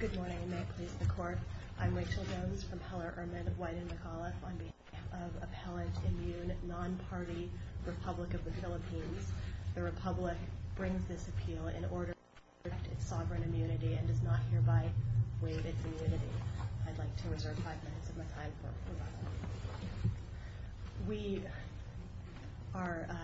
Good morning, and may it please the Court, I'm Rachel Jones from Heller-Urman, of Wyden, McAuliffe, on behalf of Appellant Immune, Non-Party, Republic of the Philippines. The Republic brings this appeal in order to protect its sovereign immunity and does not hereby waive its immunity. I'd like to reserve five minutes of my time for rebuttal. We are, uh,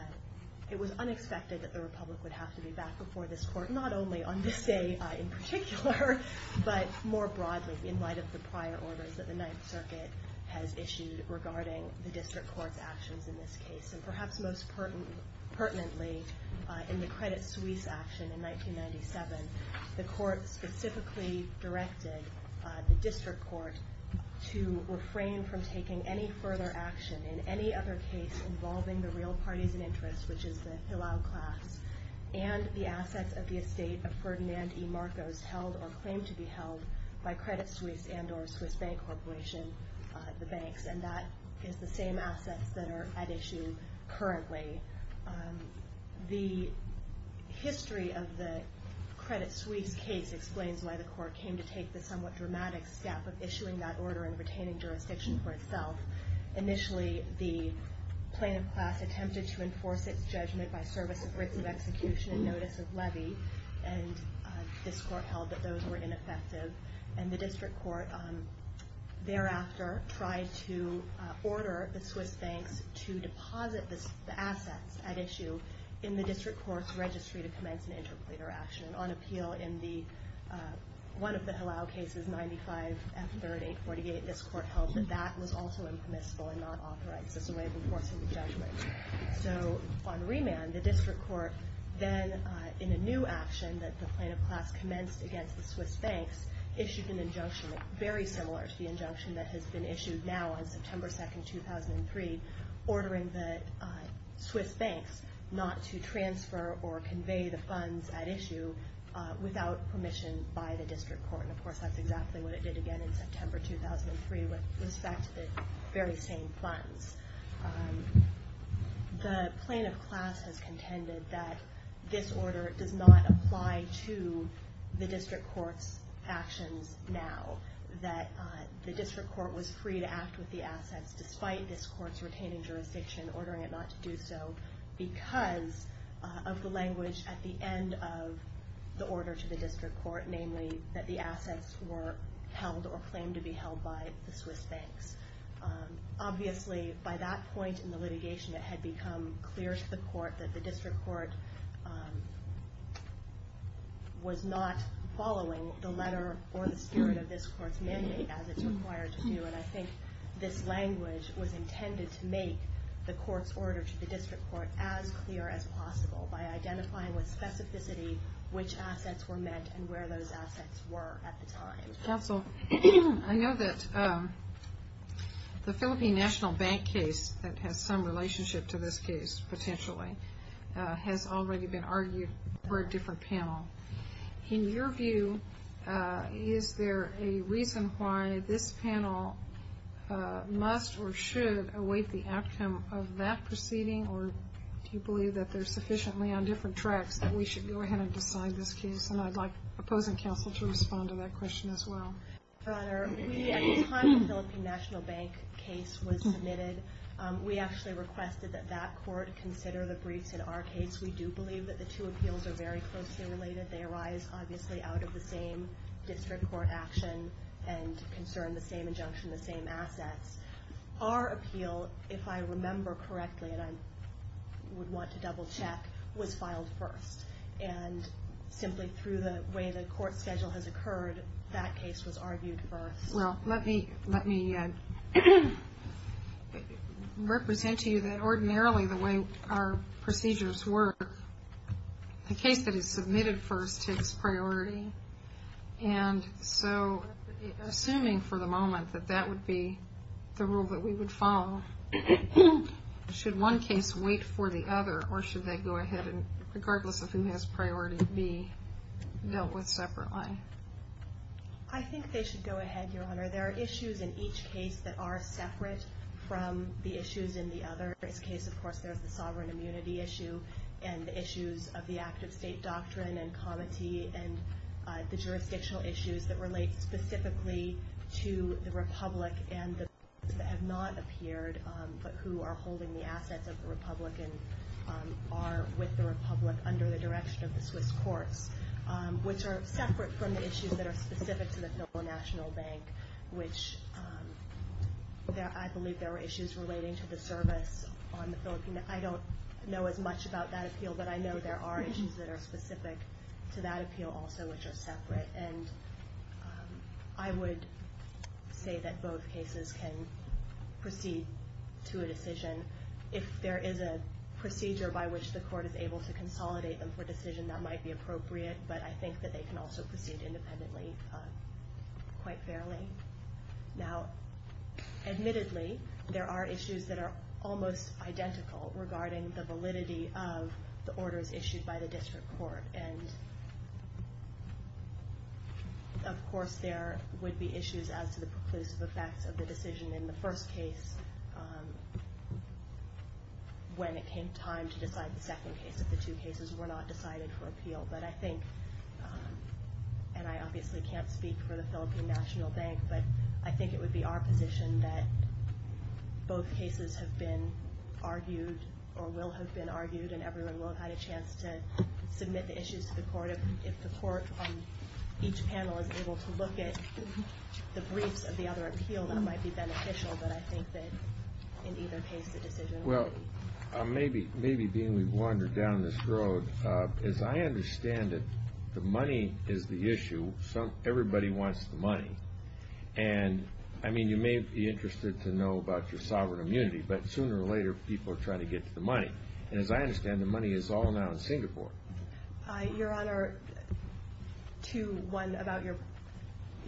it was unexpected that the Republic would have to be back before this Court, not only on this day, uh, in particular, but more broadly in light of the prior orders that the Ninth Circuit has issued regarding the District Court's actions in this case. And perhaps most pert- pertinently, uh, in the Credit Suisse action in 1997, the Court specifically directed, uh, the District Court to refrain from taking any further action in any other case involving the real parties in interest, which is the Hilao class and the assets of the estate of Ferdinand E. Marcos held or claimed to be held by Credit Suisse and or Swiss Bank Corporation, uh, the banks. And that is the same assets that are at issue currently. Um, the history of the Credit Suisse case explains why the Court came to take the somewhat dramatic step of issuing that order and retaining jurisdiction for itself. Initially, the plaintiff class attempted to enforce its judgment by service of writs of execution and notice of levy, and, uh, this Court held that those were ineffective. And the District Court, um, thereafter tried to, uh, order the Swiss banks to deposit this- the assets at issue in the District Court's registry to commence an interpleader action. On appeal in the, uh, one of the Hilao cases, 95F3848, this Court held that that was also impermissible and not authorized as a way of enforcing the judgment. So, on remand, the District Court then, uh, in a new action that the plaintiff class commenced against the Swiss banks, issued an injunction very similar to the injunction that has been issued now on September 2nd, 2003, ordering the, uh, Swiss banks not to transfer or convey the funds at issue, uh, without permission by the District Court. And of course, that's exactly what it did again in September 2003 with respect to the very same funds. Um, the plaintiff class has contended that this order does not apply to the District Court's actions now, that, uh, the District Court was free to act with the assets despite this Court's retaining jurisdiction, ordering it not to do so because, uh, of the language at the end of the order to the District Court, namely that the assets were held or claimed to be held by the Swiss banks. Um, obviously, by that point in the litigation, it had become clear to the Court that the District Court, um, was not following the letter or the spirit of this Court's mandate as it's required to do. And I think this language was intended to make the Court's order to the District Court as clear as possible by identifying with specificity which assets were met and where those assets were at the time. Counsel, I know that, um, the Philippine National Bank case that has some relationship to this case potentially, uh, has already been argued for a different panel. In your view, uh, is there a reason why this panel, uh, must or should await the outcome of that proceeding or do you believe that they're sufficiently on different tracks that we should go ahead and decide this case? And I'd like opposing counsel to respond to that question as well. Your Honor, we, at the time the Philippine National Bank case was submitted, um, we actually requested that that Court consider the briefs in our case. We do believe that the two appeals are very closely related. They arise, obviously, out of the same District Court action and concern the same injunction, the same assets. Our appeal, if I remember correctly, and I simply through the way the Court schedule has occurred, that case was argued first. Well, let me, let me, uh, represent to you that ordinarily the way our procedures work, the case that is submitted first takes priority and so assuming for the moment that that would be the rule that we would follow, should one case wait for the other or should they go ahead and take priority and be dealt with separately? I think they should go ahead, Your Honor. There are issues in each case that are separate from the issues in the other. In this case, of course, there's the sovereign immunity issue and the issues of the active state doctrine and comity and, uh, the jurisdictional issues that relate specifically to the Republic and the, that have not appeared, um, but who are holding the assets of the Republican, um, are with the Republic under the direction of the Swiss courts, um, which are separate from the issues that are specific to the Federal National Bank, which, um, there, I believe there were issues relating to the service on the Philippine, I don't know as much about that appeal, but I know there are issues that are specific to that appeal also, which are separate and, um, I would say that both cases can proceed to a decision. If there is a, um, procedure by which the court is able to consolidate them for decision, that might be appropriate, but I think that they can also proceed independently, um, quite fairly. Now, admittedly, there are issues that are almost identical regarding the validity of the orders issued by the district court and, of course, there would be issues as to the second case if the two cases were not decided for appeal, but I think, um, and I obviously can't speak for the Philippine National Bank, but I think it would be our position that both cases have been argued or will have been argued and everyone will have had a chance to submit the issues to the court. If the court on each panel is able to look at the briefs of the other appeal, that might be beneficial, but I think that in either case it's a decision. Well, um, maybe, maybe being we've wandered down this road, um, as I understand it, the money is the issue. Some, everybody wants the money and, I mean, you may be interested to know about your sovereign immunity, but sooner or later people are trying to get to the money. And as I understand, the money is all now in Singapore. Uh, Your Honor, to one, about your,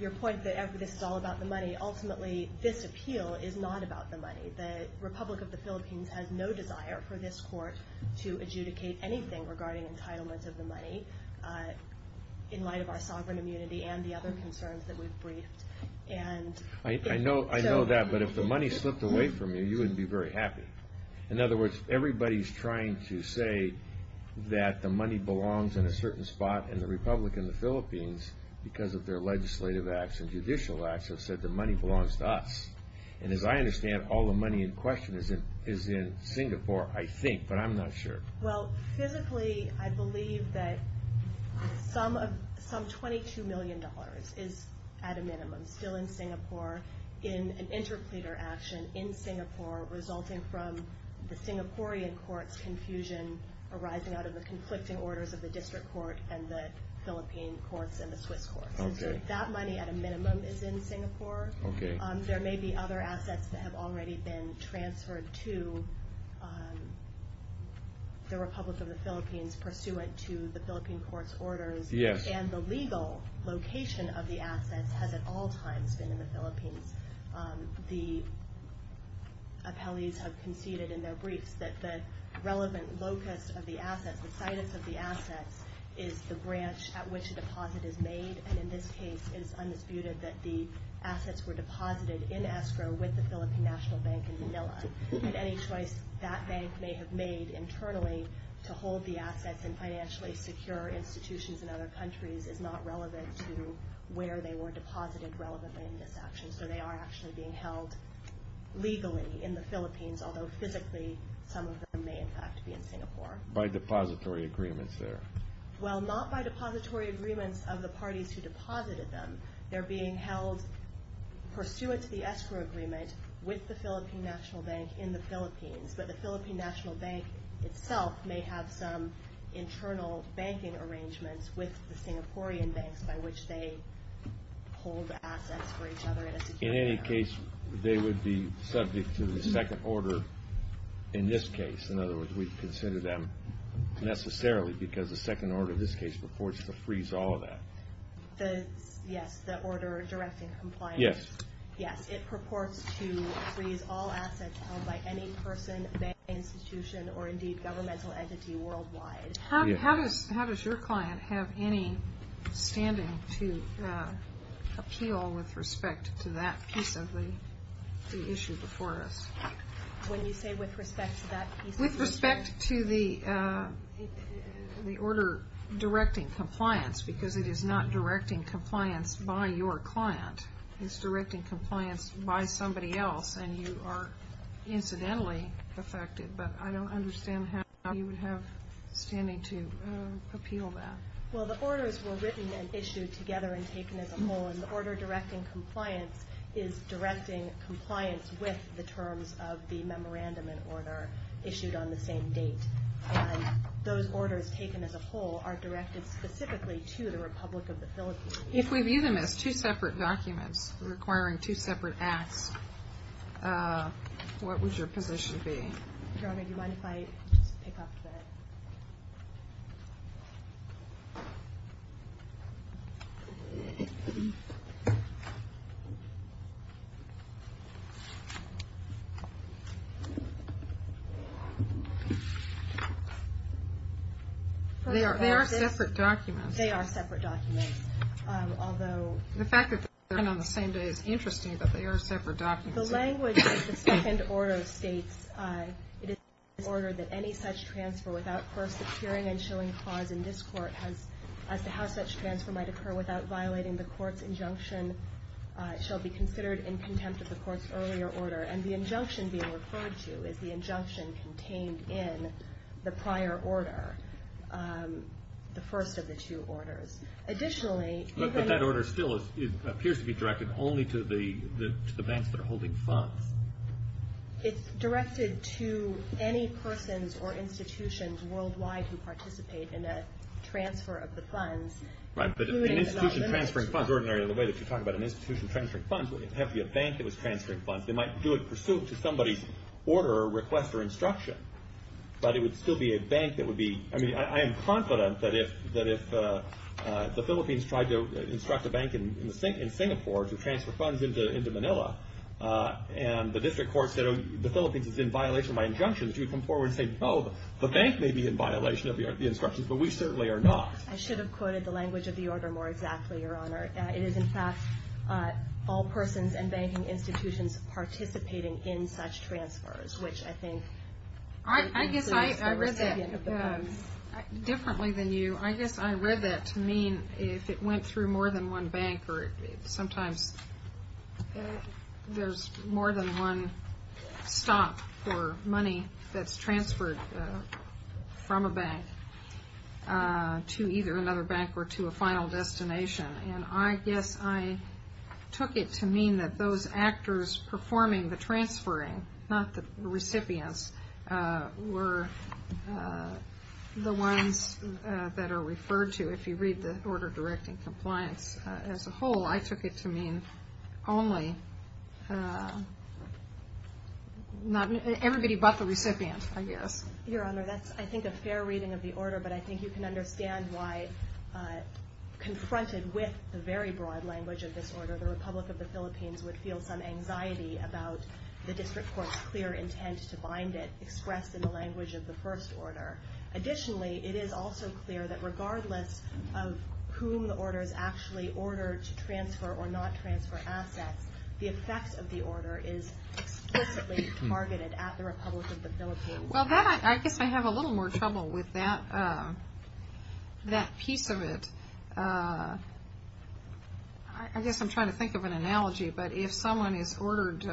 your point that this is all about the money, ultimately this appeal is not about the money. The Republic of the Philippines has no desire for this court to adjudicate anything regarding entitlements of the money, uh, in light of our sovereign immunity and the other concerns that we've briefed and... I, I know, I know that, but if the money slipped away from you, you wouldn't be very happy. In other words, everybody's trying to say that the money belongs in a certain spot and the Republic and the Philippines, because of their legislative acts and judicial acts, have said the money belongs to us. And as I understand, all the money in question is in, is in Singapore, I think, but I'm not sure. Well, physically, I believe that some of, some $22 million is at a minimum still in Singapore in an interpleader action in Singapore resulting from the Singaporean court's confusion arising out of the conflicting orders of the district court and the Philippine courts and the Swiss courts. Okay. That money at a minimum is in Singapore. Okay. Um, there may be other assets that have already been transferred to, um, the Republic of the Philippines pursuant to the Philippine court's orders. Yes. And the legal location of the assets has at all times been in the Philippines. Um, the appellees have conceded in their briefs that the relevant locus of the assets, the situs of the assets, is the branch at which the deposit is made. And in this case, it is undisputed that the assets were deposited in escrow with the Philippine National Bank in Manila. Mm-hmm. And any choice that bank may have made internally to hold the assets in financially secure institutions in other countries is not relevant to where they were deposited relevantly in this action. So they are actually being held legally in the Philippines, although physically, some of them may, in fact, be in Singapore. By depository agreements there. Well, not by depository agreements of the parties who deposited them. They're being held pursuant to the escrow agreement with the Philippine National Bank in the Philippines. But the Philippine National Bank itself may have some internal banking arrangements with the Singaporean banks by which they hold the assets for each other in a secure manner. In any case, they would be subject to the second order in this case. In other words, we'd consider them necessarily, because the second order in this case purports to freeze all of that. Yes, the order directing compliance. Yes. Yes, it purports to freeze all assets held by any person, bank, institution, or indeed governmental entity worldwide. How does your client have any standing to appeal with respect to that piece of the issue before us? When you say with respect to that piece of the issue? With respect to the order directing compliance, because it is not directing compliance by your client. It's directing compliance by somebody else, and you are incidentally affected. But I don't understand how you would have standing to appeal that. Well, the orders were written and issued together and taken as a whole. And the order directing compliance is directing compliance with the terms of the memorandum and order issued on the same date. And those orders taken as a whole are directed specifically to the Republic of the Philippines. If we view them as two separate documents requiring two separate acts, what would your position be? Do you mind if I just pick up the... They are separate documents. They are separate documents, although... The fact that they are written on the same day is interesting, but they are separate documents. The language of the second order states, it is the order that any such transfer without first securing and showing clause in this court as to how such transfer might occur without violating the court's injunction shall be considered in contempt of the court's earlier order. And the injunction being referred to is the injunction contained in the prior order, the first of the two orders. Additionally... That order still appears to be directed only to the banks that are holding funds. It's directed to any persons or institutions worldwide who participate in a transfer of the funds. Right, but an institution transferring funds, ordinarily the way that you talk about an institution transferring funds, it would have to be a bank that was transferring funds. They might do it pursuant to somebody's order, request, or instruction. But it would still be a bank that would be... I am confident that if the Philippines tried to instruct a bank in Singapore to transfer funds into Manila, and the district court said the Philippines is in violation of my injunctions, you would come forward and say, oh, the bank may be in violation of the instructions, but we certainly are not. I should have quoted the language of the order more exactly, Your Honor. It is in fact all persons and banking institutions participating in such transfers, which I think... I guess I read that differently than you. I guess I read that to mean if it went through more than one bank, or sometimes there's more than one stop for money that's transferred from a bank to either another bank or to a final destination. And I guess I took it to mean the transferring, not the recipients, were the ones that are referred to. If you read the order directing compliance as a whole, I took it to mean only... everybody but the recipient, I guess. Your Honor, that's, I think, a fair reading of the order, but I think you can understand why, confronted with the very broad language of this order, the Republic of the Philippines would feel some anxiety about the district court's clear intent to bind it, expressed in the language of the first order. Additionally, it is also clear that regardless of whom the order is actually ordered to transfer or not transfer assets, the effects of the order is explicitly targeted at the Republic of the Philippines. Well, I guess I have a little more trouble with that piece of it. I guess I'm trying to think of an analogy, but if someone is ordered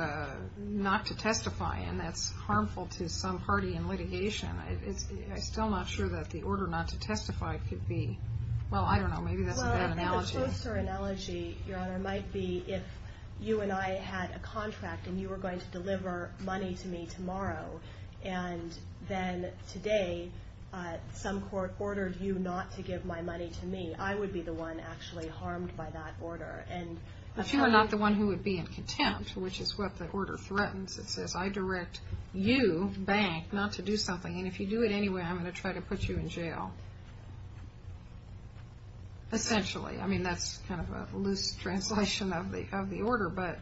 not to testify and that's harmful to some party in litigation, I'm still not sure that the order not to testify could be... well, I don't know, maybe that's a bad analogy. Well, a closer analogy, Your Honor, might be if you and I had a contract and you were going to deliver money to me tomorrow, and then today some court ordered you not to give my money to me, I would be the one actually harmed by that order. If you were not the one who would be in contempt, which is what the order threatens, it says I direct you, bank, not to do something, and if you do it anyway, I'm going to try to put you in jail. Essentially. I mean, that's kind of a loose translation of the order, but...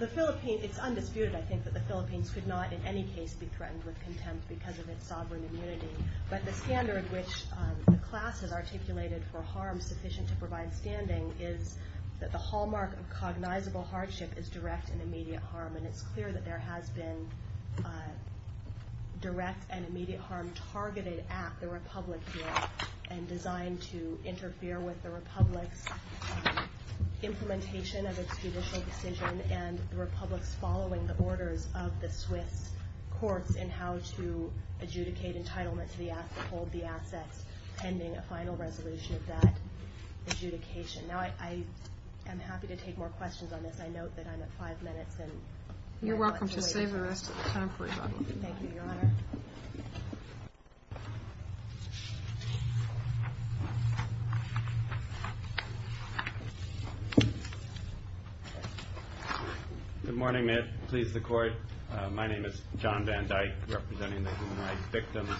It's undisputed, I think, that the Philippines could not in any case be threatened with contempt because of its sovereign immunity, but the standard which the class has articulated for harm sufficient to provide standing is that the hallmark of cognizable hardship is direct and immediate harm, and it's clear that there has been direct and immediate harm targeted at the Republic here, and designed to interfere with the Republic's implementation of its courts in how to adjudicate entitlement to the asset, hold the assets pending a final resolution of that adjudication. Now, I am happy to take more questions on this. I note that I'm at five minutes, and... You're welcome to save the rest of the time for your Good morning, ma'am. Please, the court. My name is John Van Dyke, representing the human rights victims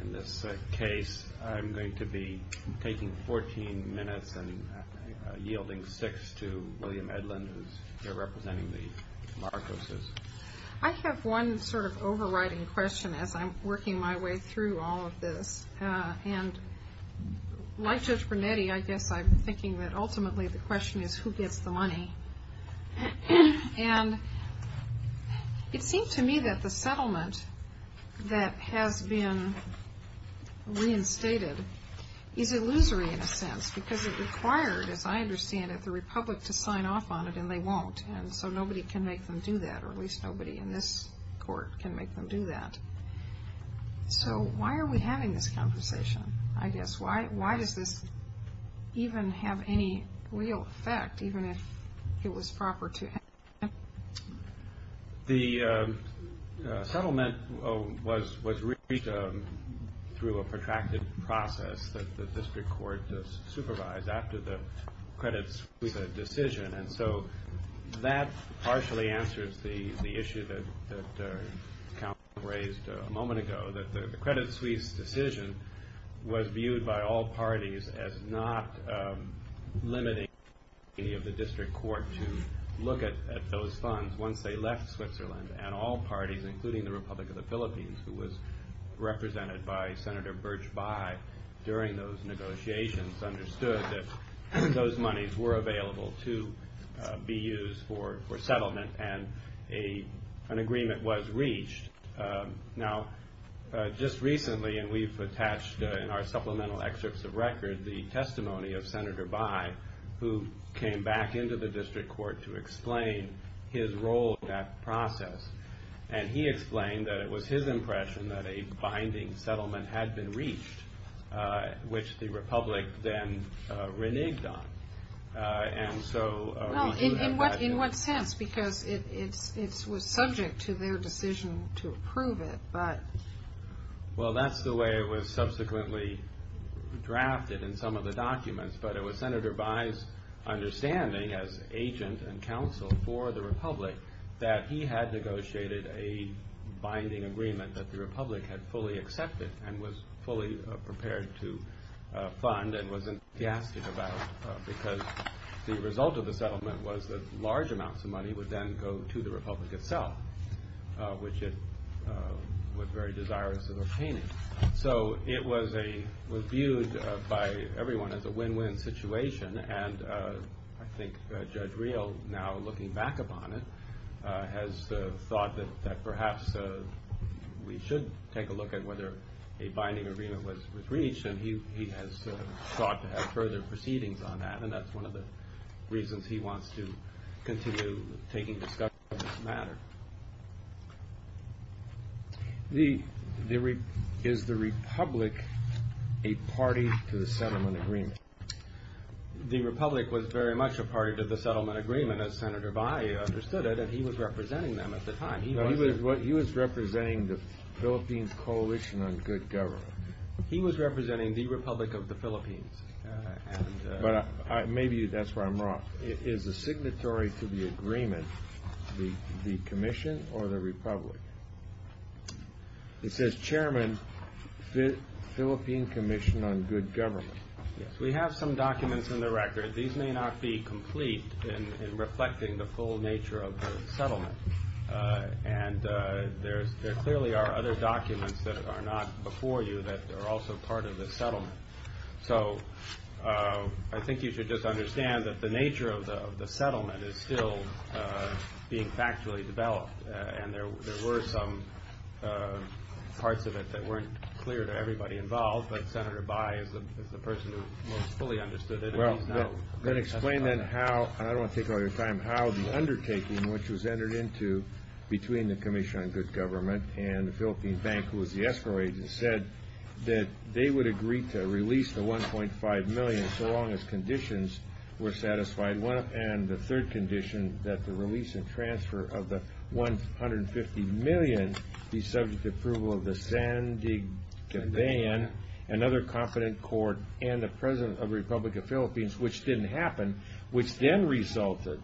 in this case. I'm going to be taking 14 minutes and yielding six to William Edlund, who's here representing the Marcoses. I have one sort of overriding question as I'm working my way through all of this, and like Judge Brunetti, I guess I'm thinking that ultimately the question is who gets the money, and it seems to me that the settlement that has been reinstated is illusory in a sense, because it required, as I understand it, the Republic to sign off on it, and they won't, and so nobody can make them do that, or at least nobody in this court can make them do that. So why are we having this conversation, I guess? Why does this even have any real effect, even if it was proper to... The settlement was reached through a protracted process that the district court supervised after the Credit Suisse decision, and so that partially answers the issue that Count raised a moment ago, that the Credit Suisse decision was viewed by all parties as not limiting any of the district court to look at those funds once they left Switzerland, and all parties, including the Republic of the Philippines, who was represented by Senator Birch Bayh during those negotiations, understood that those monies were available to be used for settlement, and an agreement was reached. Now, just recently, and we've attached in our supplemental excerpts of record the testimony of Senator Bayh, who came back into the district court to explain his role in that process, and he explained that it was his impression that a binding settlement had been reached, which the Republic then reneged on, and so... In what sense? Because it was subject to their decision to approve it, but... Well, that's the way it was subsequently drafted in some of the documents, but it was Senator Bayh's understanding, as agent and counsel for the Republic, that he had negotiated a settlement that the Republic had fully accepted, and was fully prepared to fund, and was enthusiastic about, because the result of the settlement was that large amounts of money would then go to the Republic itself, which it was very desirous of obtaining. So, it was viewed by everyone as a win-win situation, and I think Judge Reel, now looking back upon it, has thought that perhaps we should take a look at whether a binding agreement was reached, and he has sought to have further proceedings on that, and that's one of the reasons he wants to continue taking discussions on this matter. Is the Republic a party to the settlement agreement? The Republic was very much a party to the settlement agreement, as Senator Bayh understood it, and he was representing them at the time. He was representing the Philippines Coalition on Good Government. He was representing the Republic of the Philippines. Maybe that's where I'm wrong. Is the signatory to the agreement the Commission or the Republic? It says, Chairman, Philippine Commission on Good Government. Yes, we have some documents in the record. These may not be complete in reflecting the full nature of the settlement, and there clearly are other documents that are not before you that are also part of the settlement. So, I think you should just understand that the nature of the settlement is still being factually developed, and there were some parts of it that weren't clear to everybody involved, but Senator Bayh is the person who most fully understood it. Well, then explain then how, and I don't want to take all your time, how the undertaking which was entered into between the Commission on Good Government and the Philippine Bank, who was the escrow agent, said that they would agree to release the $1.5 million so long as conditions were satisfied, and the third condition that the release and transfer of the $150 million be subject to approval of the San Diego Ban, another confident court, and the President of the Republic of the Philippines, which didn't happen, which then resulted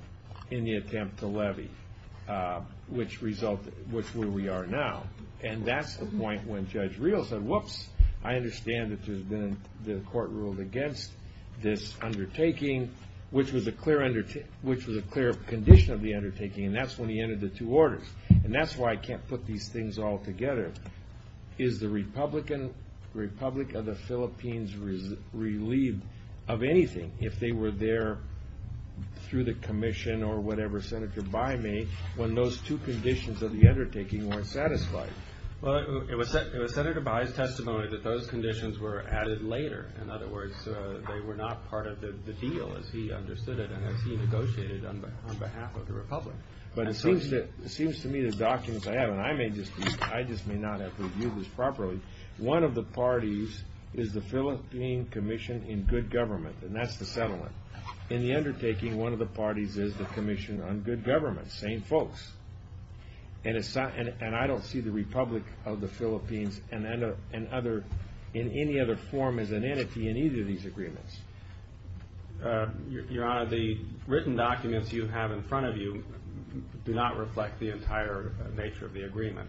in the attempt to levy, which resulted, which is where we are now, and that's the point when Judge Rios said, whoops, I understand that there's been the court ruled against this undertaking, which was a clear condition of the undertaking, and that's when he entered the two orders, and that's why I can't put these things all together. Is the Republic of the Philippines relieved of anything if they were there through the Commission or whatever Senator Bayh made when those two conditions of the undertaking weren't satisfied? Well, it was Senator Bayh's testimony that those conditions were added later. In other words, they were not part of the deal as he understood it and as he negotiated on behalf of the Republic. But it seems to me the documents I have, and I may just be, I just may not have reviewed this properly, one of the parties is the Philippine Commission in Good Government, and that's the settlement. In the undertaking, one of the parties is the Commission on Good Government, same folks. And I don't see the Republic of the Philippines in any other form as an entity in either of these agreements. Your Honor, the written documents you have in front of you do not reflect the entire nature of the agreement.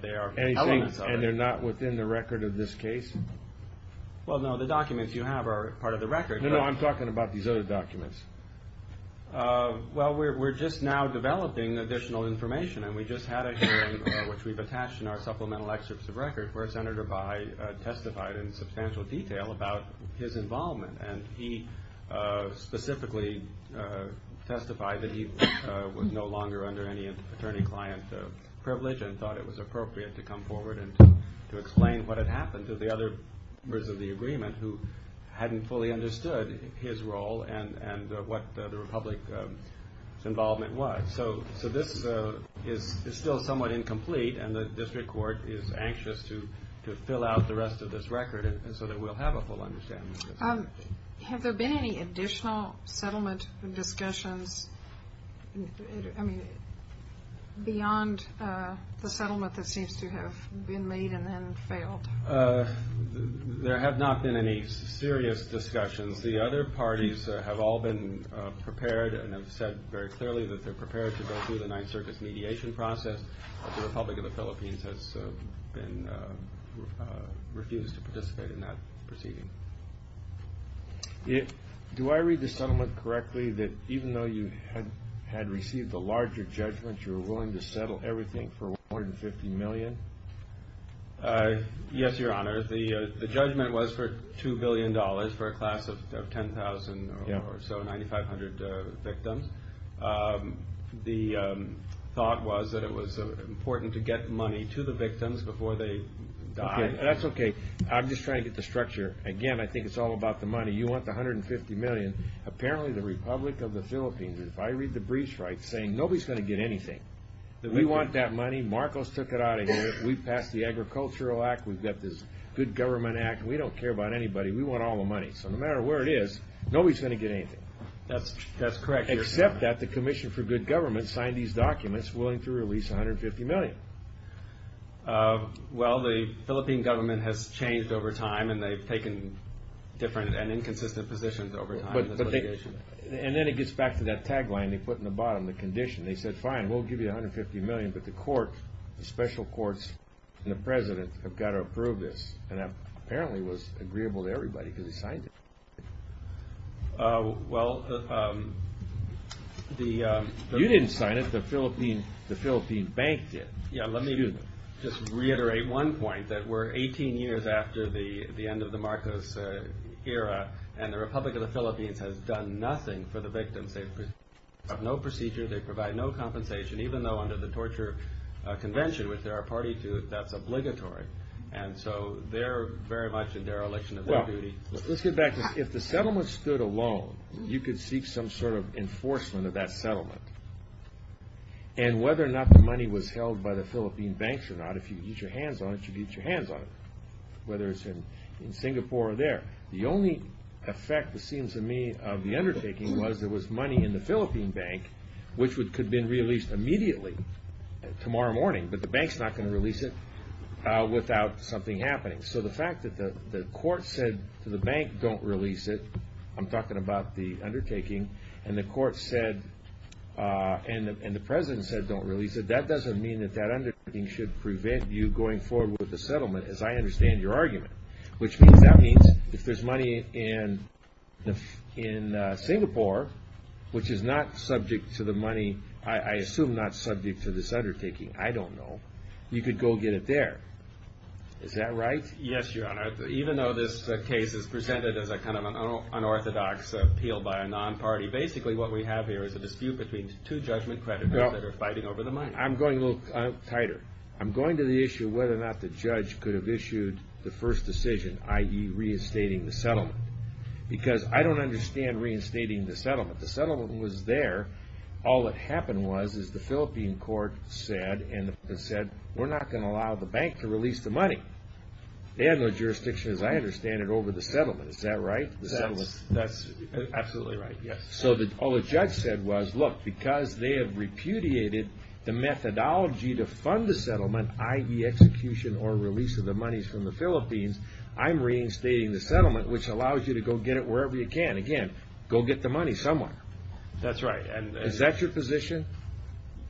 They are elements of it. And they're not within the record of this case? Well, no, the documents you have are part of the record. No, no, I'm talking about these other documents. Well, we're just now developing additional information, and we just had a hearing, which we've attached in our supplemental excerpts of record, where Senator Bayh testified in and he specifically testified that he was no longer under any attorney-client privilege and thought it was appropriate to come forward and to explain what had happened to the other members of the agreement who hadn't fully understood his role and what the Republic's involvement was. So this is still somewhat incomplete, and the district court is anxious to fill out the rest of this record so that we'll have a full understanding of this. Have there been any additional settlement discussions beyond the settlement that seems to have been made and then failed? There have not been any serious discussions. The other parties have all been prepared and have said very clearly that they're prepared to go through the Ninth Circus mediation process. The Republic of the Philippines has refused to participate in that proceeding. Do I read the settlement correctly that even though you had received a larger judgment, you were willing to settle everything for $150 million? Yes, Your Honor. The judgment was for $2 billion for a class of 10,000 or so, 9,500 victims. The thought was that it was important to get money to the victims before they died. That's okay. I'm just trying to get the structure. Again, I think it's all about the money. You want the $150 million. Apparently, the Republic of the Philippines, if I read the briefs right, saying nobody's going to get anything. We want that money. Marcos took it out of here. We passed the Agricultural Act. We've got this Good Government Act. We don't care about anybody. We want all the money. So no matter where it is, nobody's going to get anything. That's correct, Your Honor. Except that the Commission for Good Government signed these documents willing to release $150 million. Well, the Philippine government has changed over time, and they've taken different and inconsistent positions over time. And then it gets back to that tagline they put in the bottom, the condition. They said, fine, we'll give you $150 million, but the court, the special courts, and the President have got to approve this. And that apparently was agreeable to everybody because they signed it. Well, the... You didn't sign it. The Philippine bank did. Yeah, let me just reiterate one point, that we're 18 years after the end of the Marcos era, and the Republic of the Philippines has done nothing for the victims. They have no procedure. They provide no compensation, even though under the Torture Convention, which they are a party to, that's obligatory. And so they're very much in dereliction of their duty. Let's get back to this. If the settlement stood alone, you could seek some sort of enforcement of that settlement. And whether or not the money was held by the Philippine banks or not, if you could get your hands on it, you could get your hands on it, whether it's in Singapore or there. The only effect, it seems to me, of the undertaking was there was money in the Philippine bank which could have been released immediately, tomorrow morning, but the bank's not going to release it without something happening. So the fact that the court said to the bank, don't release it, I'm talking about the undertaking, and the court said, and the president said don't release it, that doesn't mean that that undertaking should prevent you going forward with the settlement, as I understand your argument. Which means, that means, if there's money in Singapore, which is not subject to the money, I assume not subject to this undertaking, I don't know, you could go get it there. Is that right? Yes, your honor. Even though this case is presented as a kind of unorthodox appeal by a non-party, basically what we have here is a dispute between two judgment creditors that are fighting over the money. I'm going a little tighter. I'm going to the issue of whether or not the judge could have issued the first decision, i.e. reinstating the settlement. Because I don't understand reinstating the settlement. They had no jurisdiction, as I understand it, over the settlement. Is that right? That's absolutely right, yes. So all the judge said was, look, because they have repudiated the methodology to fund the settlement, i.e. execution or release of the monies from the Philippines, I'm reinstating the settlement, which allows you to go get it wherever you can. Again, go get the money somewhere. That's right. Is that your position?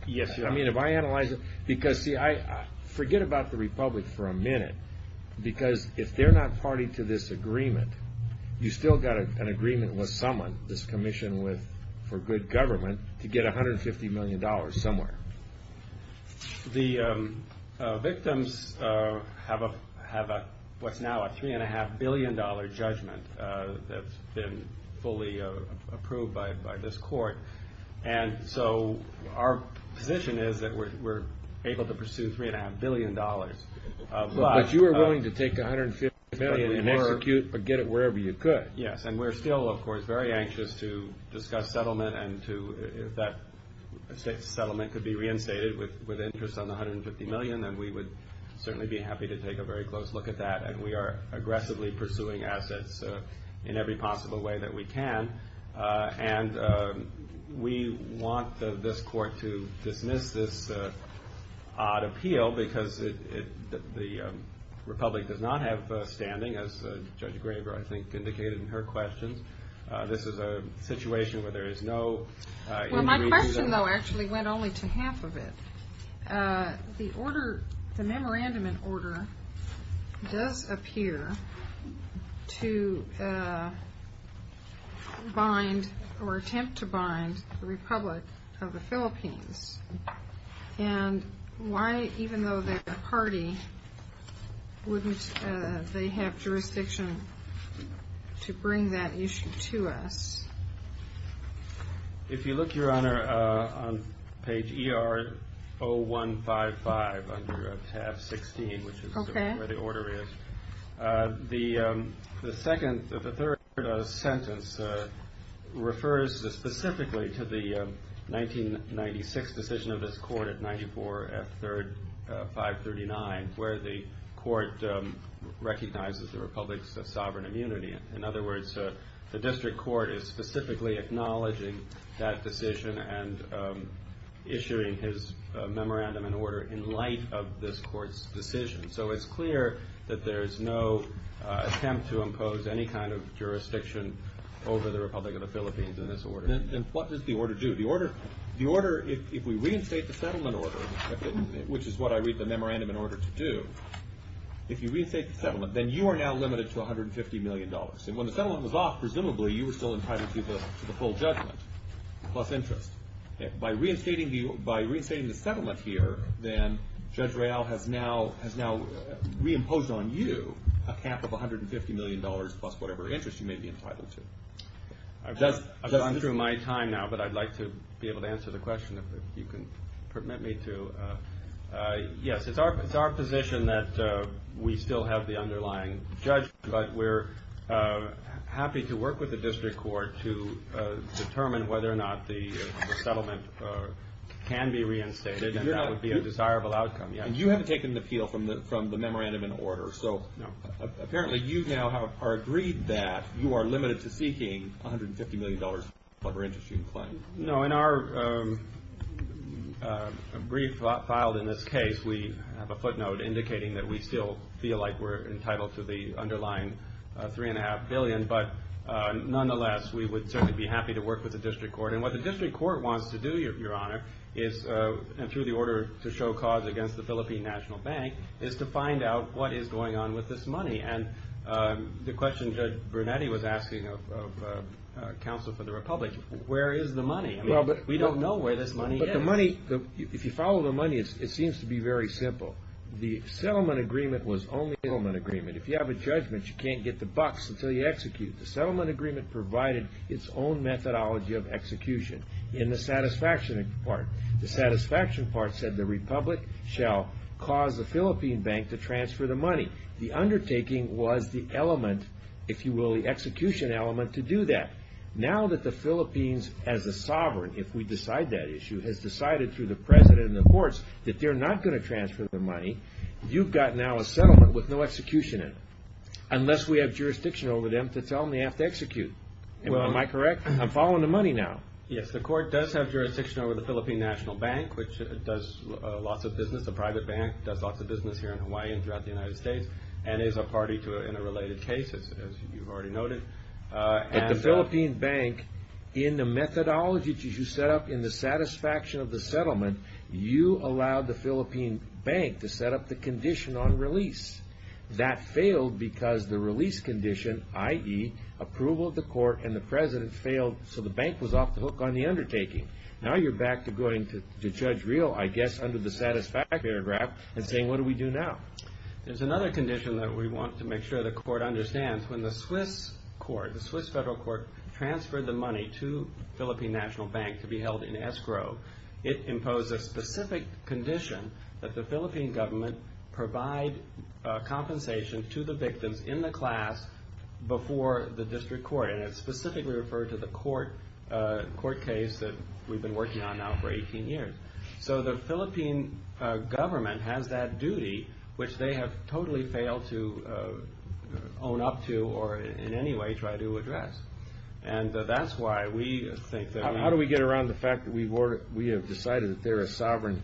Yes, your honor. Forget about the republic for a minute. Because if they're not party to this agreement, you've still got an agreement with someone, this commission for good government, to get $150 million somewhere. The victims have what's now a $3.5 billion judgment that's been fully approved by this court. And so our position is that we're able to pursue $3.5 billion. But you are willing to take $150 million and execute or get it wherever you could. Yes. And we're still, of course, very anxious to discuss settlement and if that settlement could be reinstated with interest on the $150 million, then we would certainly be happy to take a very close look at that. And we are aggressively pursuing assets in every possible way that we can. And we want this court to dismiss this odd appeal because the republic does not have standing, as Judge Greenberg, I think, indicated in her questions. This is a situation where there is no... Well, my question, though, actually went only to half of it. The order, the memorandum in order, does appear to bind or attempt to bind the Republic of the Philippines. And why, even though they're a party, wouldn't they have jurisdiction to bring that issue to us? If you look, Your Honor, on page ER-0155 under TAF-16, which is where the order is, the third sentence refers specifically to the 1996 decision of this court at 94 F. 3rd 539, where the court recognizes the republic's sovereign immunity. In other words, the district court is specifically acknowledging that decision and issuing his memorandum in order in light of this court's decision. So it's clear that there is no attempt to impose any kind of jurisdiction over the Republic of the Philippines in this order. Then what does the order do? The order, if we reinstate the settlement order, which is what I read the memorandum in order to do, if you reinstate the settlement, then you are now limited to $150 million. And when the settlement was off, presumably you were still entitled to the full judgment plus interest. By reinstating the settlement here, then Judge Real has now reimposed on you a cap of $150 million plus whatever interest you may be entitled to. I've gone through my time now, but I'd like to be able to answer the question if you can permit me to. Yes, it's our position that we still have the underlying judgment, but we're happy to work with the district court to determine whether or not the settlement can be reinstated and that would be a desirable outcome. And you haven't taken the appeal from the memorandum in order, so apparently you now have agreed that you are limited to seeking $150 million plus whatever interest you claim. No, in our brief filed in this case, we have a footnote indicating that we still feel like we're entitled to the underlying $3.5 billion, but nonetheless, we would certainly be happy to work with the district court. And what the district court wants to do, Your Honor, is through the order to show cause against the Philippine National Bank, is to find out what is going on with this money. And the question Judge Bernetti was asking of counsel for the republic, where is the money? We don't know where this money is. But the money, if you follow the money, it seems to be very simple. The settlement agreement was only a settlement agreement. If you have a judgment, you can't get the bucks until you execute. The settlement agreement provided its own methodology of execution in the satisfaction part. The satisfaction part said the republic shall cause the Philippine bank to transfer the money. The undertaking was the element, if you will, the execution element to do that. Now that the Philippines, as a sovereign, if we decide that issue, has decided through the president and the courts that they're not going to transfer the money. You've got now a settlement with no execution in it. Unless we have jurisdiction over them to tell them they have to execute. Am I correct? I'm following the money now. Yes, the court does have jurisdiction over the Philippine National Bank, which does lots of business. The private bank does lots of business here in Hawaii and throughout the United States and is a party to it in a related case, as you've already noted. At the Philippine bank, in the methodology that you set up in the satisfaction of the settlement, you allowed the Philippine bank to set up the condition on release. That failed because the release condition, i.e., approval of the court and the president, failed so the bank was off the hook on the undertaking. Now you're back to going to Judge Real, I guess, under the satisfaction paragraph and saying, what do we do now? There's another condition that we want to make sure the court understands. When the Swiss federal court transferred the money to the Philippine National Bank to be held in escrow, it imposed a specific condition that the Philippine government provide compensation to the victims in the class before the district court. And it's specifically referred to the court case that we've been working on now for 18 years. So the Philippine government has that duty, which they have totally failed to own up to or in any way try to address. And that's why we think that we... How do we get around the fact that we have decided that they're a sovereign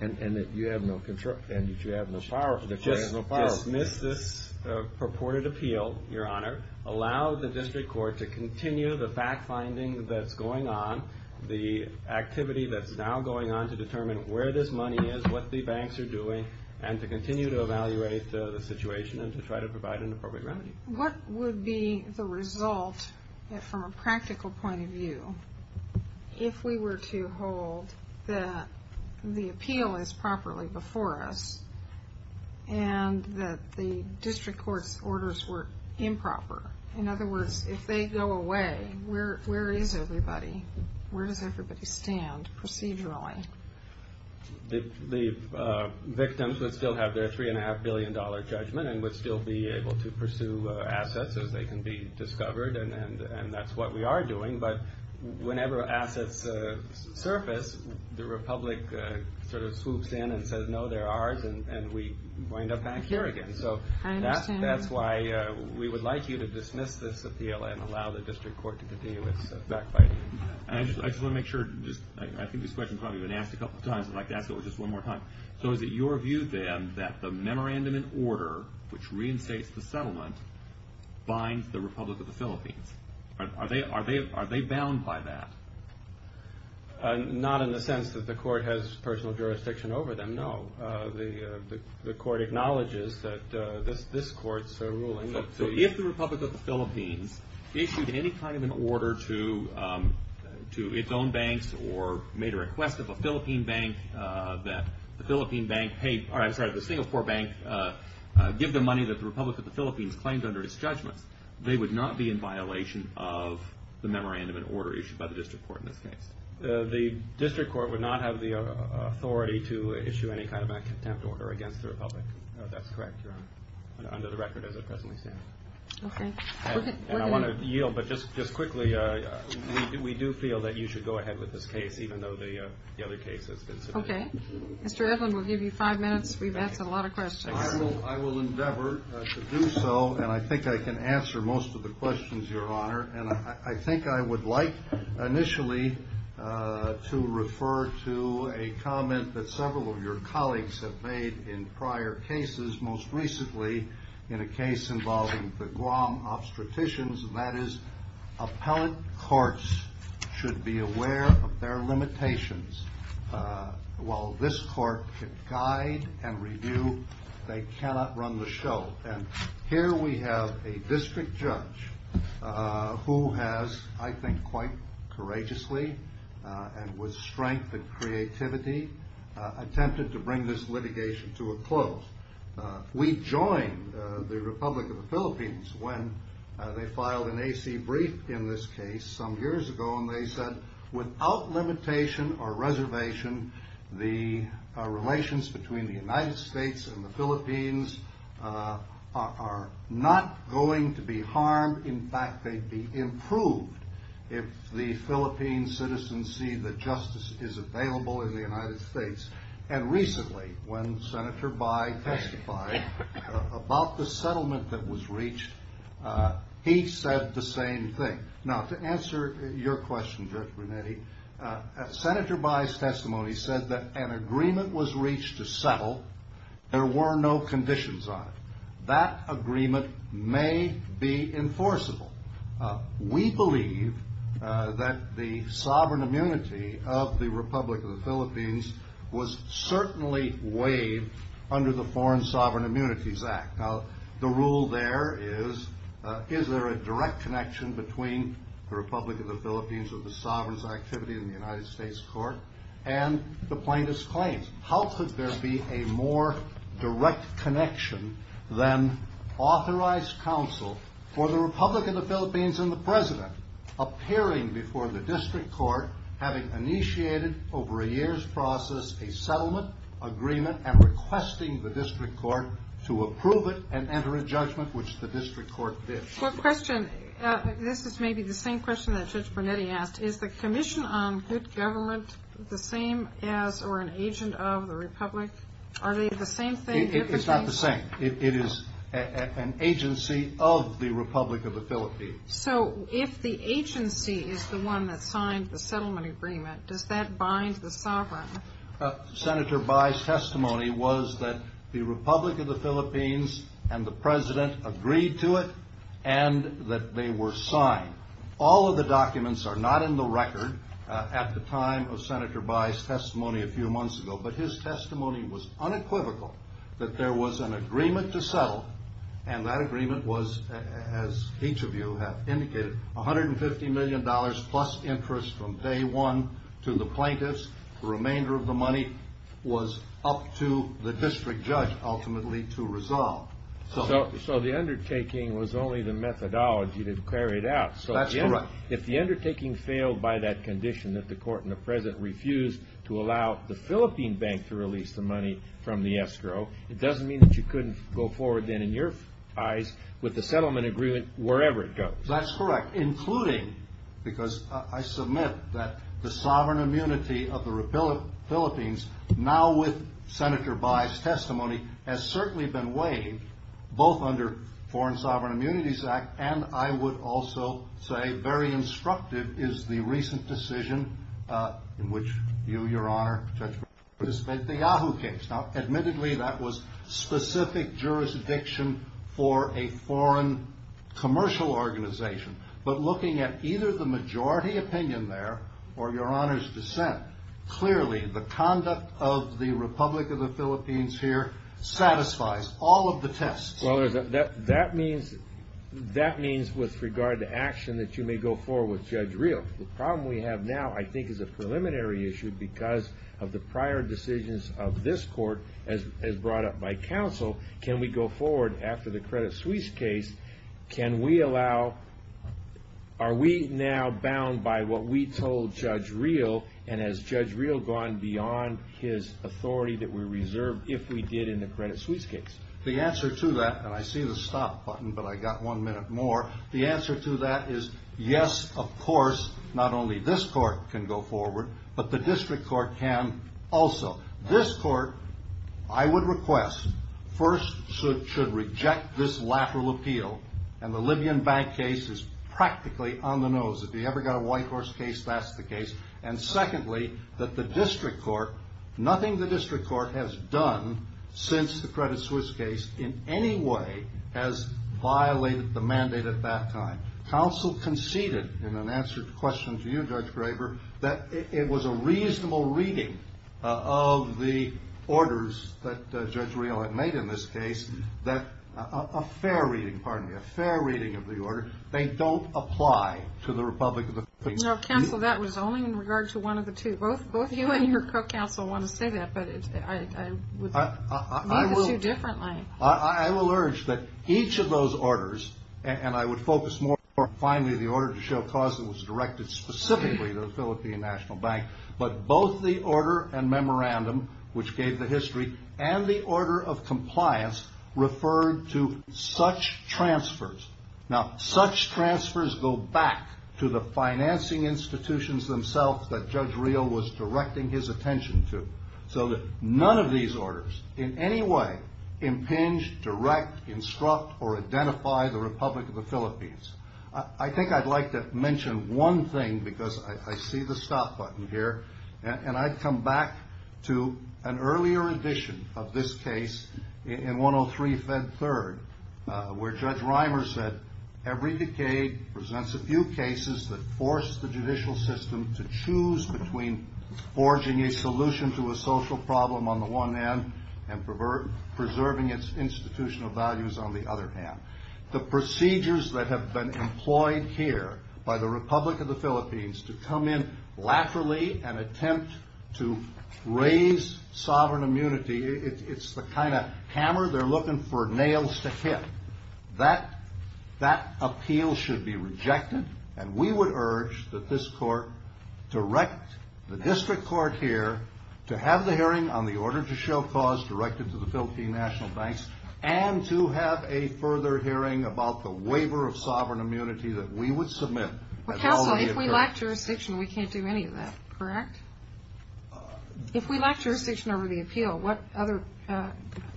and that you have no control and that you have no power? Dismiss this purported appeal, Your Honor. Allow the district court to continue the fact-finding that's going on, the activity that's now going on to determine where this money is, what the banks are doing, and to continue to evaluate the situation and to try to provide an appropriate remedy. What would be the result from a practical point of view if we were to hold that the appeal is properly before us and that the district court's orders were improper? In other words, if they go away, where is everybody? Where does everybody stand procedurally? The victims would still have their $3.5 billion judgment and would still be able to pursue assets as they can be discovered, and that's what we are doing. But whenever assets surface, the Republic swoops in and says, no, they're ours, and we wind up back here again. So that's why we would like you to dismiss this appeal and allow the district court to continue its fact-finding. I just want to make sure. I think this question has probably been asked a couple of times. I'd like to ask it just one more time. So is it your view, then, that the memorandum in order which reinstates the settlement binds the Republic of the Philippines? Are they bound by that? Not in the sense that the court has personal jurisdiction over them. No. The court acknowledges that this court's ruling. So if the Republic of the Philippines issued any kind of an order to its own banks or made a request of a Philippine bank that the Singapore bank give the money that the Republic of the Philippines claimed under its judgments, they would not be in violation of the memorandum in order issued by the district court in this case. The district court would not have the authority to issue any kind of a contempt order against the Republic. That's correct, Your Honor, under the record as it presently stands. Okay. And I want to yield, but just quickly, we do feel that you should go ahead with this case, even though the other case has been submitted. Okay. Mr. Edlin, we'll give you five minutes. We've answered a lot of questions. I will endeavor to do so, and I think I can answer most of the questions, Your Honor. And I think I would like initially to refer to a comment that several of your colleagues have made in prior cases, most recently in a case involving the Guam obstetricians, and that is appellate courts should be aware of their limitations while this court can guide and review, they cannot run the show. And here we have a district judge who has, I think quite courageously and with strength and creativity, attempted to bring this litigation to a close. We joined the Republic of the Philippines when they filed an AC brief in this case some years ago, and they said without limitation or reservation, the relations between the United States and the Philippines are not going to be harmed. In fact, they'd be improved if the Philippine citizens see that justice is available in the United States. And recently, when Senator Bai testified about the settlement that was reached, he said the same thing. Now, to answer your question, Judge Brunetti, Senator Bai's testimony said that an agreement was reached to settle. There were no conditions on it. That agreement may be enforceable. We believe that the sovereign immunity of the Republic of the Philippines was certainly waived under the Foreign Sovereign Immunities Act. Now, the rule there is, is there a direct connection between the Republic of the Philippines or the sovereign's activity in the United States court and the plaintiff's claims? How could there be a more direct connection than authorized counsel for the Republic of the Philippines and the President appearing before the district court having initiated over a year's process a settlement agreement and requesting the district court to approve it and enter a judgment, which the district court did? One question. This is maybe the same question that Judge Brunetti asked. Is the commission on good government the same as or an agent of the Republic? Are they the same thing? It is not the same. It is an agency of the Republic of the Philippines. So if the agency is the one that signed the settlement agreement, does that bind the sovereign? Senator Bai's testimony was that the Republic of the Philippines and the President agreed to it and that they were signed. All of the documents are not in the record at the time of Senator Bai's testimony a few months ago, but his testimony was unequivocal that there was an agreement to settle, and that agreement was, as each of you have indicated, $150 million plus interest from day one to the plaintiffs. The remainder of the money was up to the district judge ultimately to resolve. So the undertaking was only the methodology to carry it out. That's correct. If the undertaking failed by that condition that the court and the President refused to allow the Philippine bank to release the money from the escrow, it doesn't mean that you couldn't go forward then in your eyes with the settlement agreement wherever it goes. That's correct, including because I submit that the sovereign immunity of the Philippines, now with Senator Bai's testimony, has certainly been weighed, both under Foreign Sovereign Immunities Act, and I would also say very instructive is the recent decision in which you, Your Honor, the judge participated in the Yahoo case. Now, admittedly, that was specific jurisdiction for a foreign commercial organization, but looking at either the majority opinion there or Your Honor's dissent, clearly the conduct of the Republic of the Philippines here satisfies all of the tests. Well, that means with regard to action that you may go forward with Judge Rios. The problem we have now, I think, is a preliminary issue because of the prior decisions of this court as brought up by counsel. Can we go forward after the Credit Suisse case? Can we allow, are we now bound by what we told Judge Rios, and has Judge Rios gone beyond his authority that we reserved if we did in the Credit Suisse case? The answer to that, and I see the stop button, but I got one minute more. The answer to that is yes, of course, not only this court can go forward, but the district court can also. This court, I would request, first should reject this lateral appeal, and the Libyan bank case is practically on the nose. If you ever got a white horse case, that's the case. And secondly, that the district court, nothing the district court has done since the Credit Suisse case in any way has violated the mandate at that time. Counsel conceded in an answer to the question to you, Judge Graber, that it was a reasonable reading of the orders that Judge Rios had made in this case, that a fair reading, pardon me, a fair reading of the order. They don't apply to the Republic of the Philippines. Counsel, that was only in regard to one of the two. Both you and your co-counsel want to say that, but I would mean the two differently. I will urge that each of those orders, and I would focus more on finally the order to show cause that was directed specifically to the Philippine National Bank, but both the order and memorandum, which gave the history, and the order of compliance referred to such transfers. Now, such transfers go back to the financing institutions themselves that Judge Rios was directing his attention to, so that none of these orders in any way impinge, direct, instruct, or identify the Republic of the Philippines. I think I'd like to mention one thing, because I see the stop button here, and I'd come back to an earlier edition of this case in 103 Fed Third, where Judge Reimer said, every decade presents a few cases that force the judicial system to choose between forging a solution to a social problem on the one hand, and preserving its institutional values on the other hand. The procedures that have been employed here by the Republic of the Philippines to come in laterally and attempt to raise sovereign immunity, it's the kind of hammer they're looking for nails to hit. That appeal should be rejected, and we would urge that this court direct the district court here to have the hearing on the order to show cause directed to the Philippine National Bank, and to have a further hearing about the waiver of sovereign immunity that we would submit. Counsel, if we lack jurisdiction, we can't do any of that, correct? If we lack jurisdiction over the appeal, what other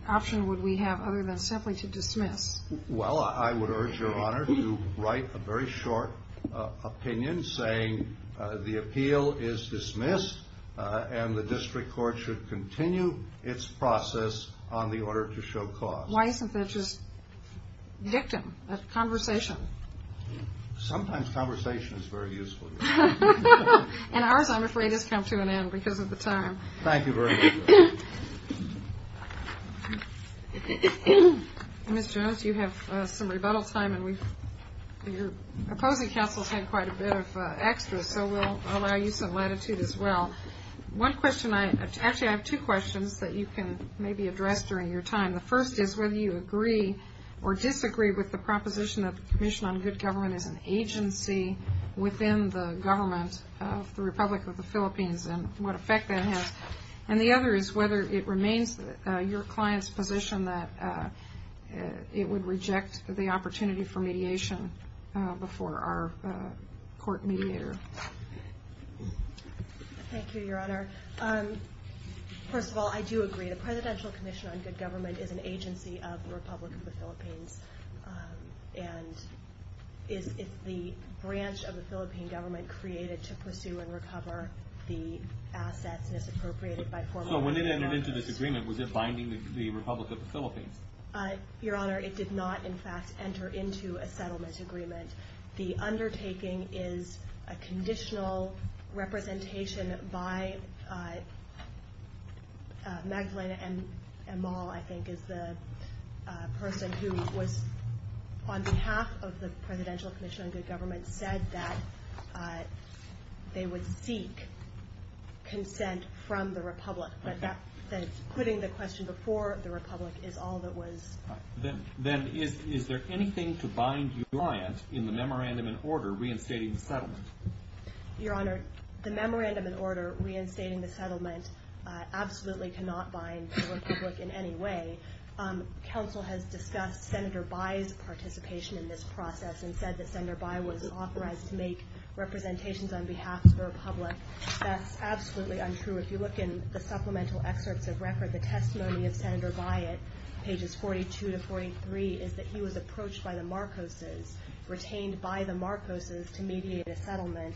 option would we have other than simply to dismiss? Well, I would urge your honor to write a very short opinion saying the appeal is dismissed, and the district court should continue its process on the order to show cause. Why isn't that just dictum, a conversation? Sometimes conversation is very useful. And ours, I'm afraid, has come to an end because of the time. Thank you very much. Ms. Jones, you have some rebuttal time, and your opposing counsels had quite a bit of extras, so we'll allow you some latitude as well. Actually, I have two questions that you can maybe address during your time. The first is whether you agree or disagree with the proposition that the Commission on Good Government is an agency within the government of the Republic of the Philippines and what effect that has. And the other is whether it remains your client's position that it would reject the opportunity for mediation before our court mediator. Thank you, your honor. First of all, I do agree. The Presidential Commission on Good Government is an agency of the Republic of the Philippines, and it's the branch of the Philippine government created to pursue and recover the assets misappropriated by former So when it entered into this agreement, was it binding the Republic of the Philippines? Your honor, it did not, in fact, enter into a settlement agreement. The undertaking is a conditional representation by Magdalena Amal, I think, is the person who was, on behalf of the Presidential Commission on Good Government, said that they would seek consent from the Republic. But that's putting the question before the Republic is all that was... Then is there anything to bind your client in the memorandum in order reinstating the settlement? Your honor, the memorandum in order reinstating the settlement absolutely cannot bind the Republic in any way. Counsel has discussed Senator Bai's participation in this process and said that Senator Bai was authorized to make representations on behalf of the Republic. That's absolutely untrue. If you look in the supplemental excerpts of record, the testimony of Senator Bai at pages 42 to 43 is that he was approached by the Marcoses, retained by the Marcoses to mediate a settlement,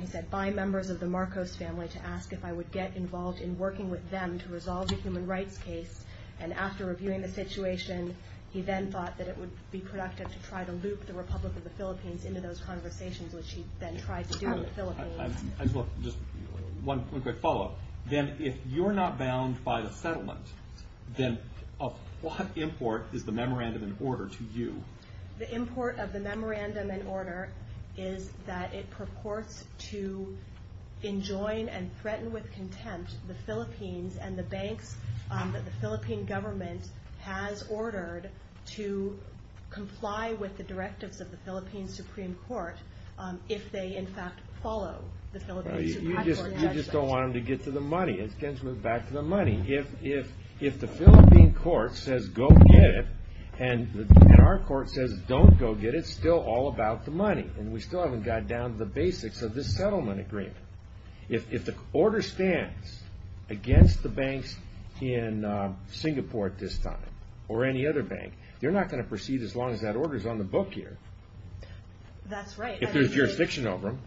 he said, by members of the Marcos family to ask if I would get involved in working with them to resolve a human rights case. And after reviewing the situation, he then thought that it would be productive to try to loop the Republic of the Philippines into those conversations, which he then tried to do in the Philippines. Just one quick follow-up. Then if you're not bound by the settlement, then of what import is the memorandum in order to you? The import of the memorandum in order is that it purports to enjoin and threaten with contempt the Philippines and the banks that the Philippine government has ordered to comply with the directives of the Philippine Supreme Court, if they in fact follow the Philippine Supreme Court. You just don't want them to get to the money. It tends to move back to the money. If the Philippine court says go get it, and our court says don't go get it, it's still all about the money, and we still haven't got down to the basics of this settlement agreement. If the order stands against the banks in Singapore at this time, or any other bank, they're not going to proceed as long as that order is on the book here. That's right. If there's jurisdiction over them.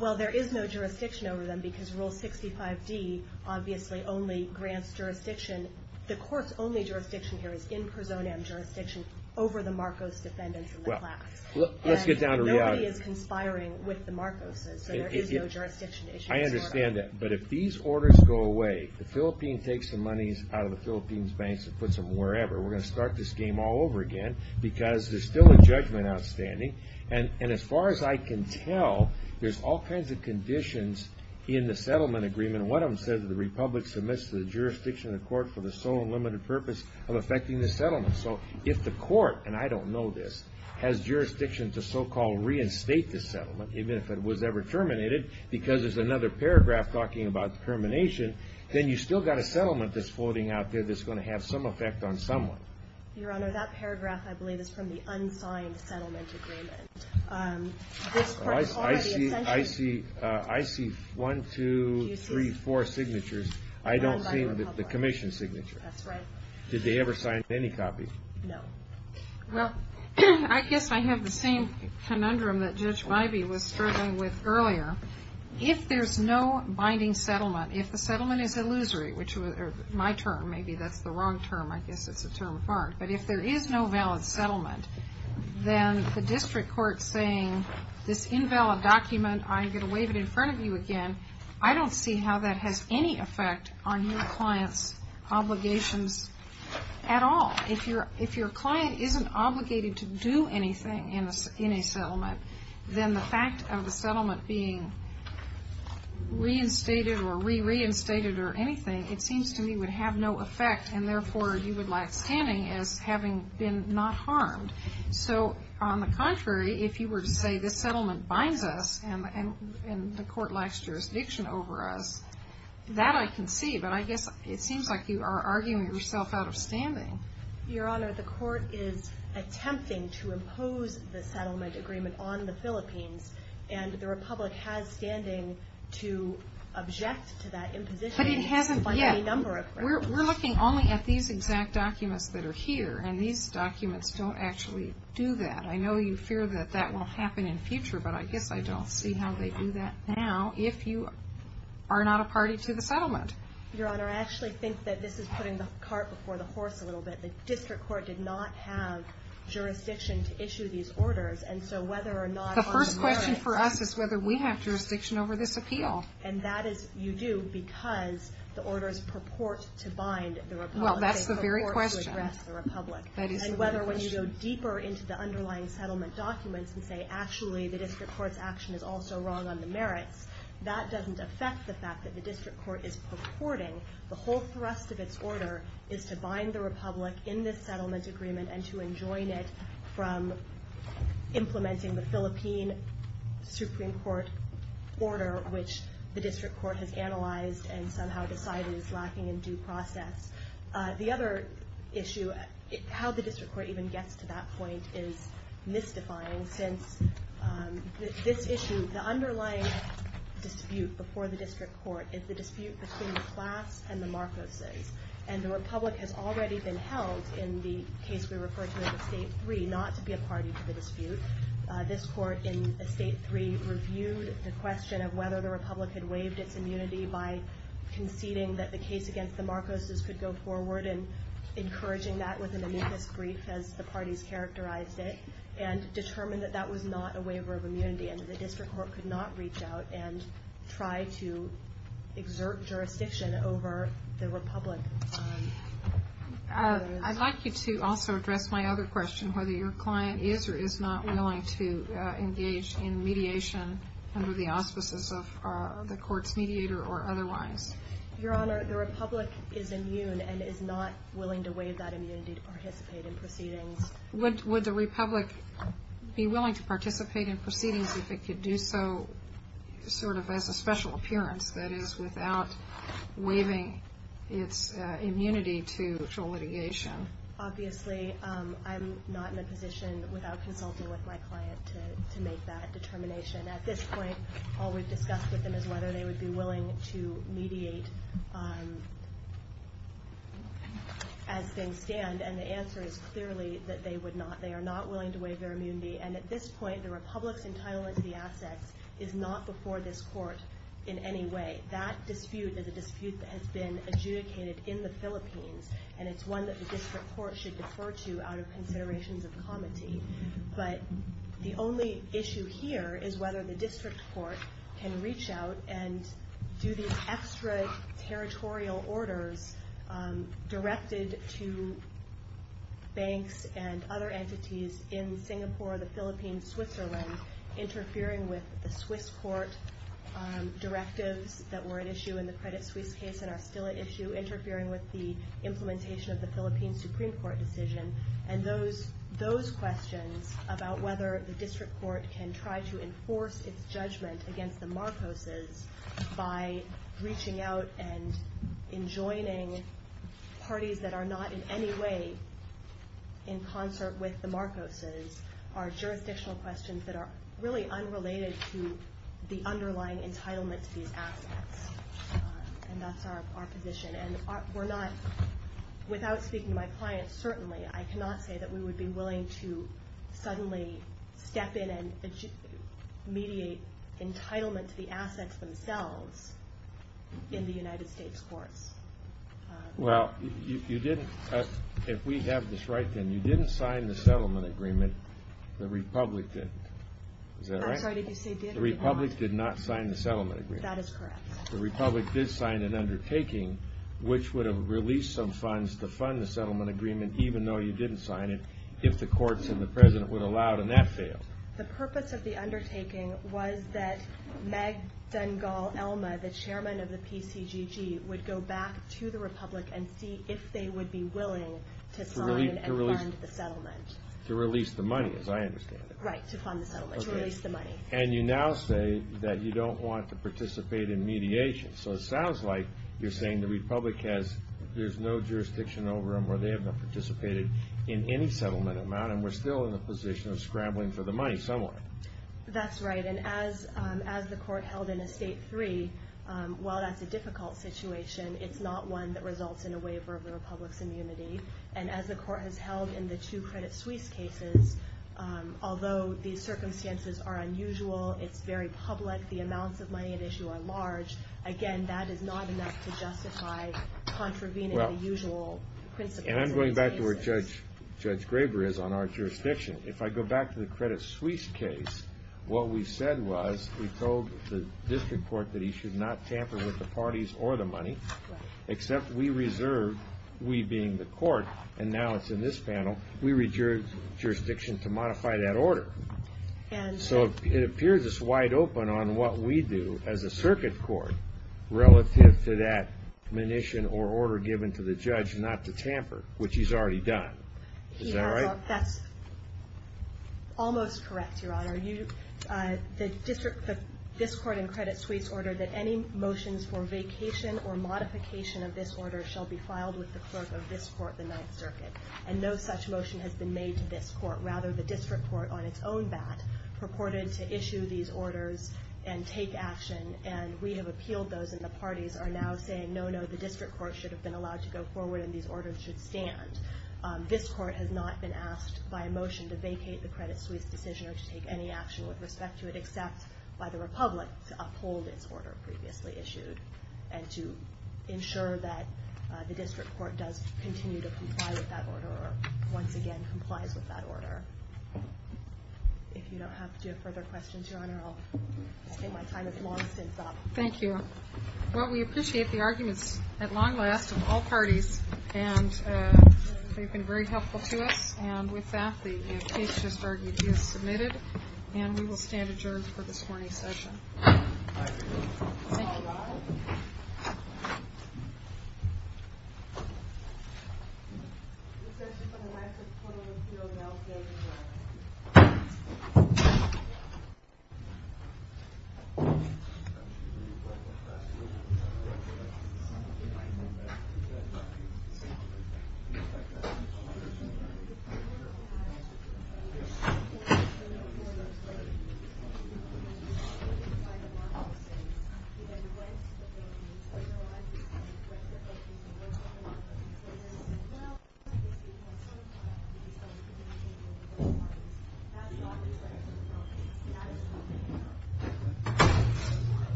Well, there is no jurisdiction over them, because Rule 65D obviously only grants jurisdiction. The court's only jurisdiction here is in prosonam jurisdiction over the Marcos defendants in the class. Let's get down to reality. Rule 65D is conspiring with the Marcos, so there is no jurisdiction issue. I understand that, but if these orders go away, the Philippines takes the monies out of the Philippines banks and puts them wherever, we're going to start this game all over again, because there's still a judgment outstanding, and as far as I can tell, there's all kinds of conditions in the settlement agreement. One of them says the republic submits to the jurisdiction of the court for the sole and limited purpose of effecting the settlement. So if the court, and I don't know this, has jurisdiction to so-called reinstate this settlement, even if it was ever terminated, because there's another paragraph talking about termination, then you've still got a settlement that's floating out there that's going to have some effect on someone. Your Honor, that paragraph, I believe, is from the unsigned settlement agreement. This court is already in session. I see one, two, three, four signatures. I don't see the commission signature. That's right. Did they ever sign any copies? No. Well, I guess I have the same conundrum that Judge Wybie was struggling with earlier. If there's no binding settlement, if the settlement is illusory, which was my term, maybe that's the wrong term, I guess it's a term of art, but if there is no valid settlement, then the district court saying this invalid document, I'm going to waive it in front of you again, I don't see how that has any effect on your client's obligations at all. If your client isn't obligated to do anything in a settlement, then the fact of the settlement being reinstated or re-reinstated or anything, it seems to me would have no effect, and therefore you would like standing as having been not harmed. So on the contrary, if you were to say this settlement binds us and the court lacks jurisdiction over us, that I can see, but I guess it seems like you are arguing yourself out of standing. Your Honor, the court is attempting to impose the settlement agreement on the Philippines, and the Republic has standing to object to that imposition by any number of groups. We're looking only at these exact documents that are here, and these documents don't actually do that. I know you fear that that will happen in the future, but I guess I don't see how they do that now, if you are not a party to the settlement. Your Honor, I actually think that this is putting the cart before the horse a little bit. The district court did not have jurisdiction to issue these orders, and so whether or not... The first question for us is whether we have jurisdiction over this appeal. And that is, you do, because the orders purport to bind the Republic. Well, that's the very question. They purport to address the Republic. That is the very question. And whether when you go deeper into the underlying settlement documents and say, actually, the district court's action is also wrong on the merits, that doesn't affect the fact that the district court is purporting. The whole thrust of its order is to bind the Republic in this settlement agreement and to enjoin it from implementing the Philippine Supreme Court order, which the district court has analyzed and somehow decided is lacking in due process. The other issue, how the district court even gets to that point is mystifying, since this issue, the underlying dispute before the district court, is the dispute between the class and the Marcoses. And the Republic has already been held in the case we refer to as Estate 3, not to be a party to the dispute. This court in Estate 3 reviewed the question of whether the Republic had waived its immunity by conceding that the case against the Marcoses could go forward and encouraging that with an amicus brief, as the parties characterized it, and determined that that was not a waiver of immunity and that the district court could not reach out and try to exert jurisdiction over the Republic. I'd like you to also address my other question, whether your client is or is not willing to engage in mediation under the auspices of the court's mediator or otherwise. Your Honor, the Republic is immune and is not willing to waive that immunity to participate in proceedings. Would the Republic be willing to participate in proceedings if it could do so sort of as a special appearance, that is, without waiving its immunity to litigation? Obviously, I'm not in a position without consulting with my client to make that determination. At this point, all we've discussed with them is whether they would be willing to mediate as things stand. And the answer is clearly that they would not. They are not willing to waive their immunity. And at this point, the Republic's entitlement to the assets is not before this court in any way. That dispute is a dispute that has been adjudicated in the Philippines, and it's one that the district court should defer to out of considerations of comity. But the only issue here is whether the district court can reach out and do these extra territorial orders directed to banks and other entities in Singapore, the Philippines, Switzerland, interfering with the Swiss court directives that were at issue in the Credit Suisse case and are still at issue, interfering with the implementation of the Philippine Supreme Court decision, and those questions about whether the district court can try to enforce its judgment against the Marcoses by breaching out and enjoining parties that are not in any way in concert with the Marcoses are jurisdictional questions that are really unrelated to the underlying entitlement to these assets. And that's our position. And we're not, without speaking to my clients certainly, I cannot say that we would be willing to suddenly step in and mediate entitlement to the assets themselves in the United States courts. Well, you didn't, if we have this right then, you didn't sign the settlement agreement. The Republic did. Is that right? I'm sorry, did you say did or did not? The Republic did not sign the settlement agreement. That is correct. The Republic did sign an undertaking which would have released some funds to fund the settlement agreement even though you didn't sign it if the courts and the President would allow it, and that failed. The purpose of the undertaking was that Meg Dengal-Elma, the chairman of the PCGG, would go back to the Republic and see if they would be willing to sign and fund the settlement. To release the money, as I understand it. And you now say that you don't want to participate in mediation. So it sounds like you're saying the Republic has, there's no jurisdiction over them or they have not participated in any settlement amount and we're still in the position of scrambling for the money somewhere. That's right. And as the Court held in Estate 3, while that's a difficult situation, it's not one that results in a waiver of the Republic's immunity. And as the Court has held in the two Credit Suisse cases, although the circumstances are unusual, it's very public, the amounts of money at issue are large, again, that is not enough to justify contravening the usual principles. And I'm going back to where Judge Graber is on our jurisdiction. If I go back to the Credit Suisse case, what we said was we told the District Court that he should not tamper with the parties or the money, except we reserve, we being the Court, and now it's in this panel, we reserve jurisdiction to modify that order. So it appears it's wide open on what we do as a circuit court relative to that munition or order given to the judge not to tamper, which he's already done. Is that right? That's almost correct, Your Honor. The District, this Court in Credit Suisse ordered that any motions for vacation or modification of this order shall be filed with the clerk of this Court, the Ninth Circuit, and no such motion has been made to this Court. Rather, the District Court on its own bat purported to issue these orders and take action, and we have appealed those and the parties are now saying, no, no, the District Court should have been allowed to go forward and these orders should stand. This Court has not been asked by a motion to vacate the Credit Suisse decision or to take any action with respect to it except by the Republic to uphold its order previously issued and to ensure that the District Court does continue to comply with that order or once again complies with that order. If you don't have further questions, Your Honor, I'll say my time has long since up. Thank you. Well, we appreciate the arguments at long last of all parties, and they've been very helpful to us. And with that, the case just argued is submitted, and we will stand adjourned for this morning's session. Thank you. Thank you. Thank you. Thank you.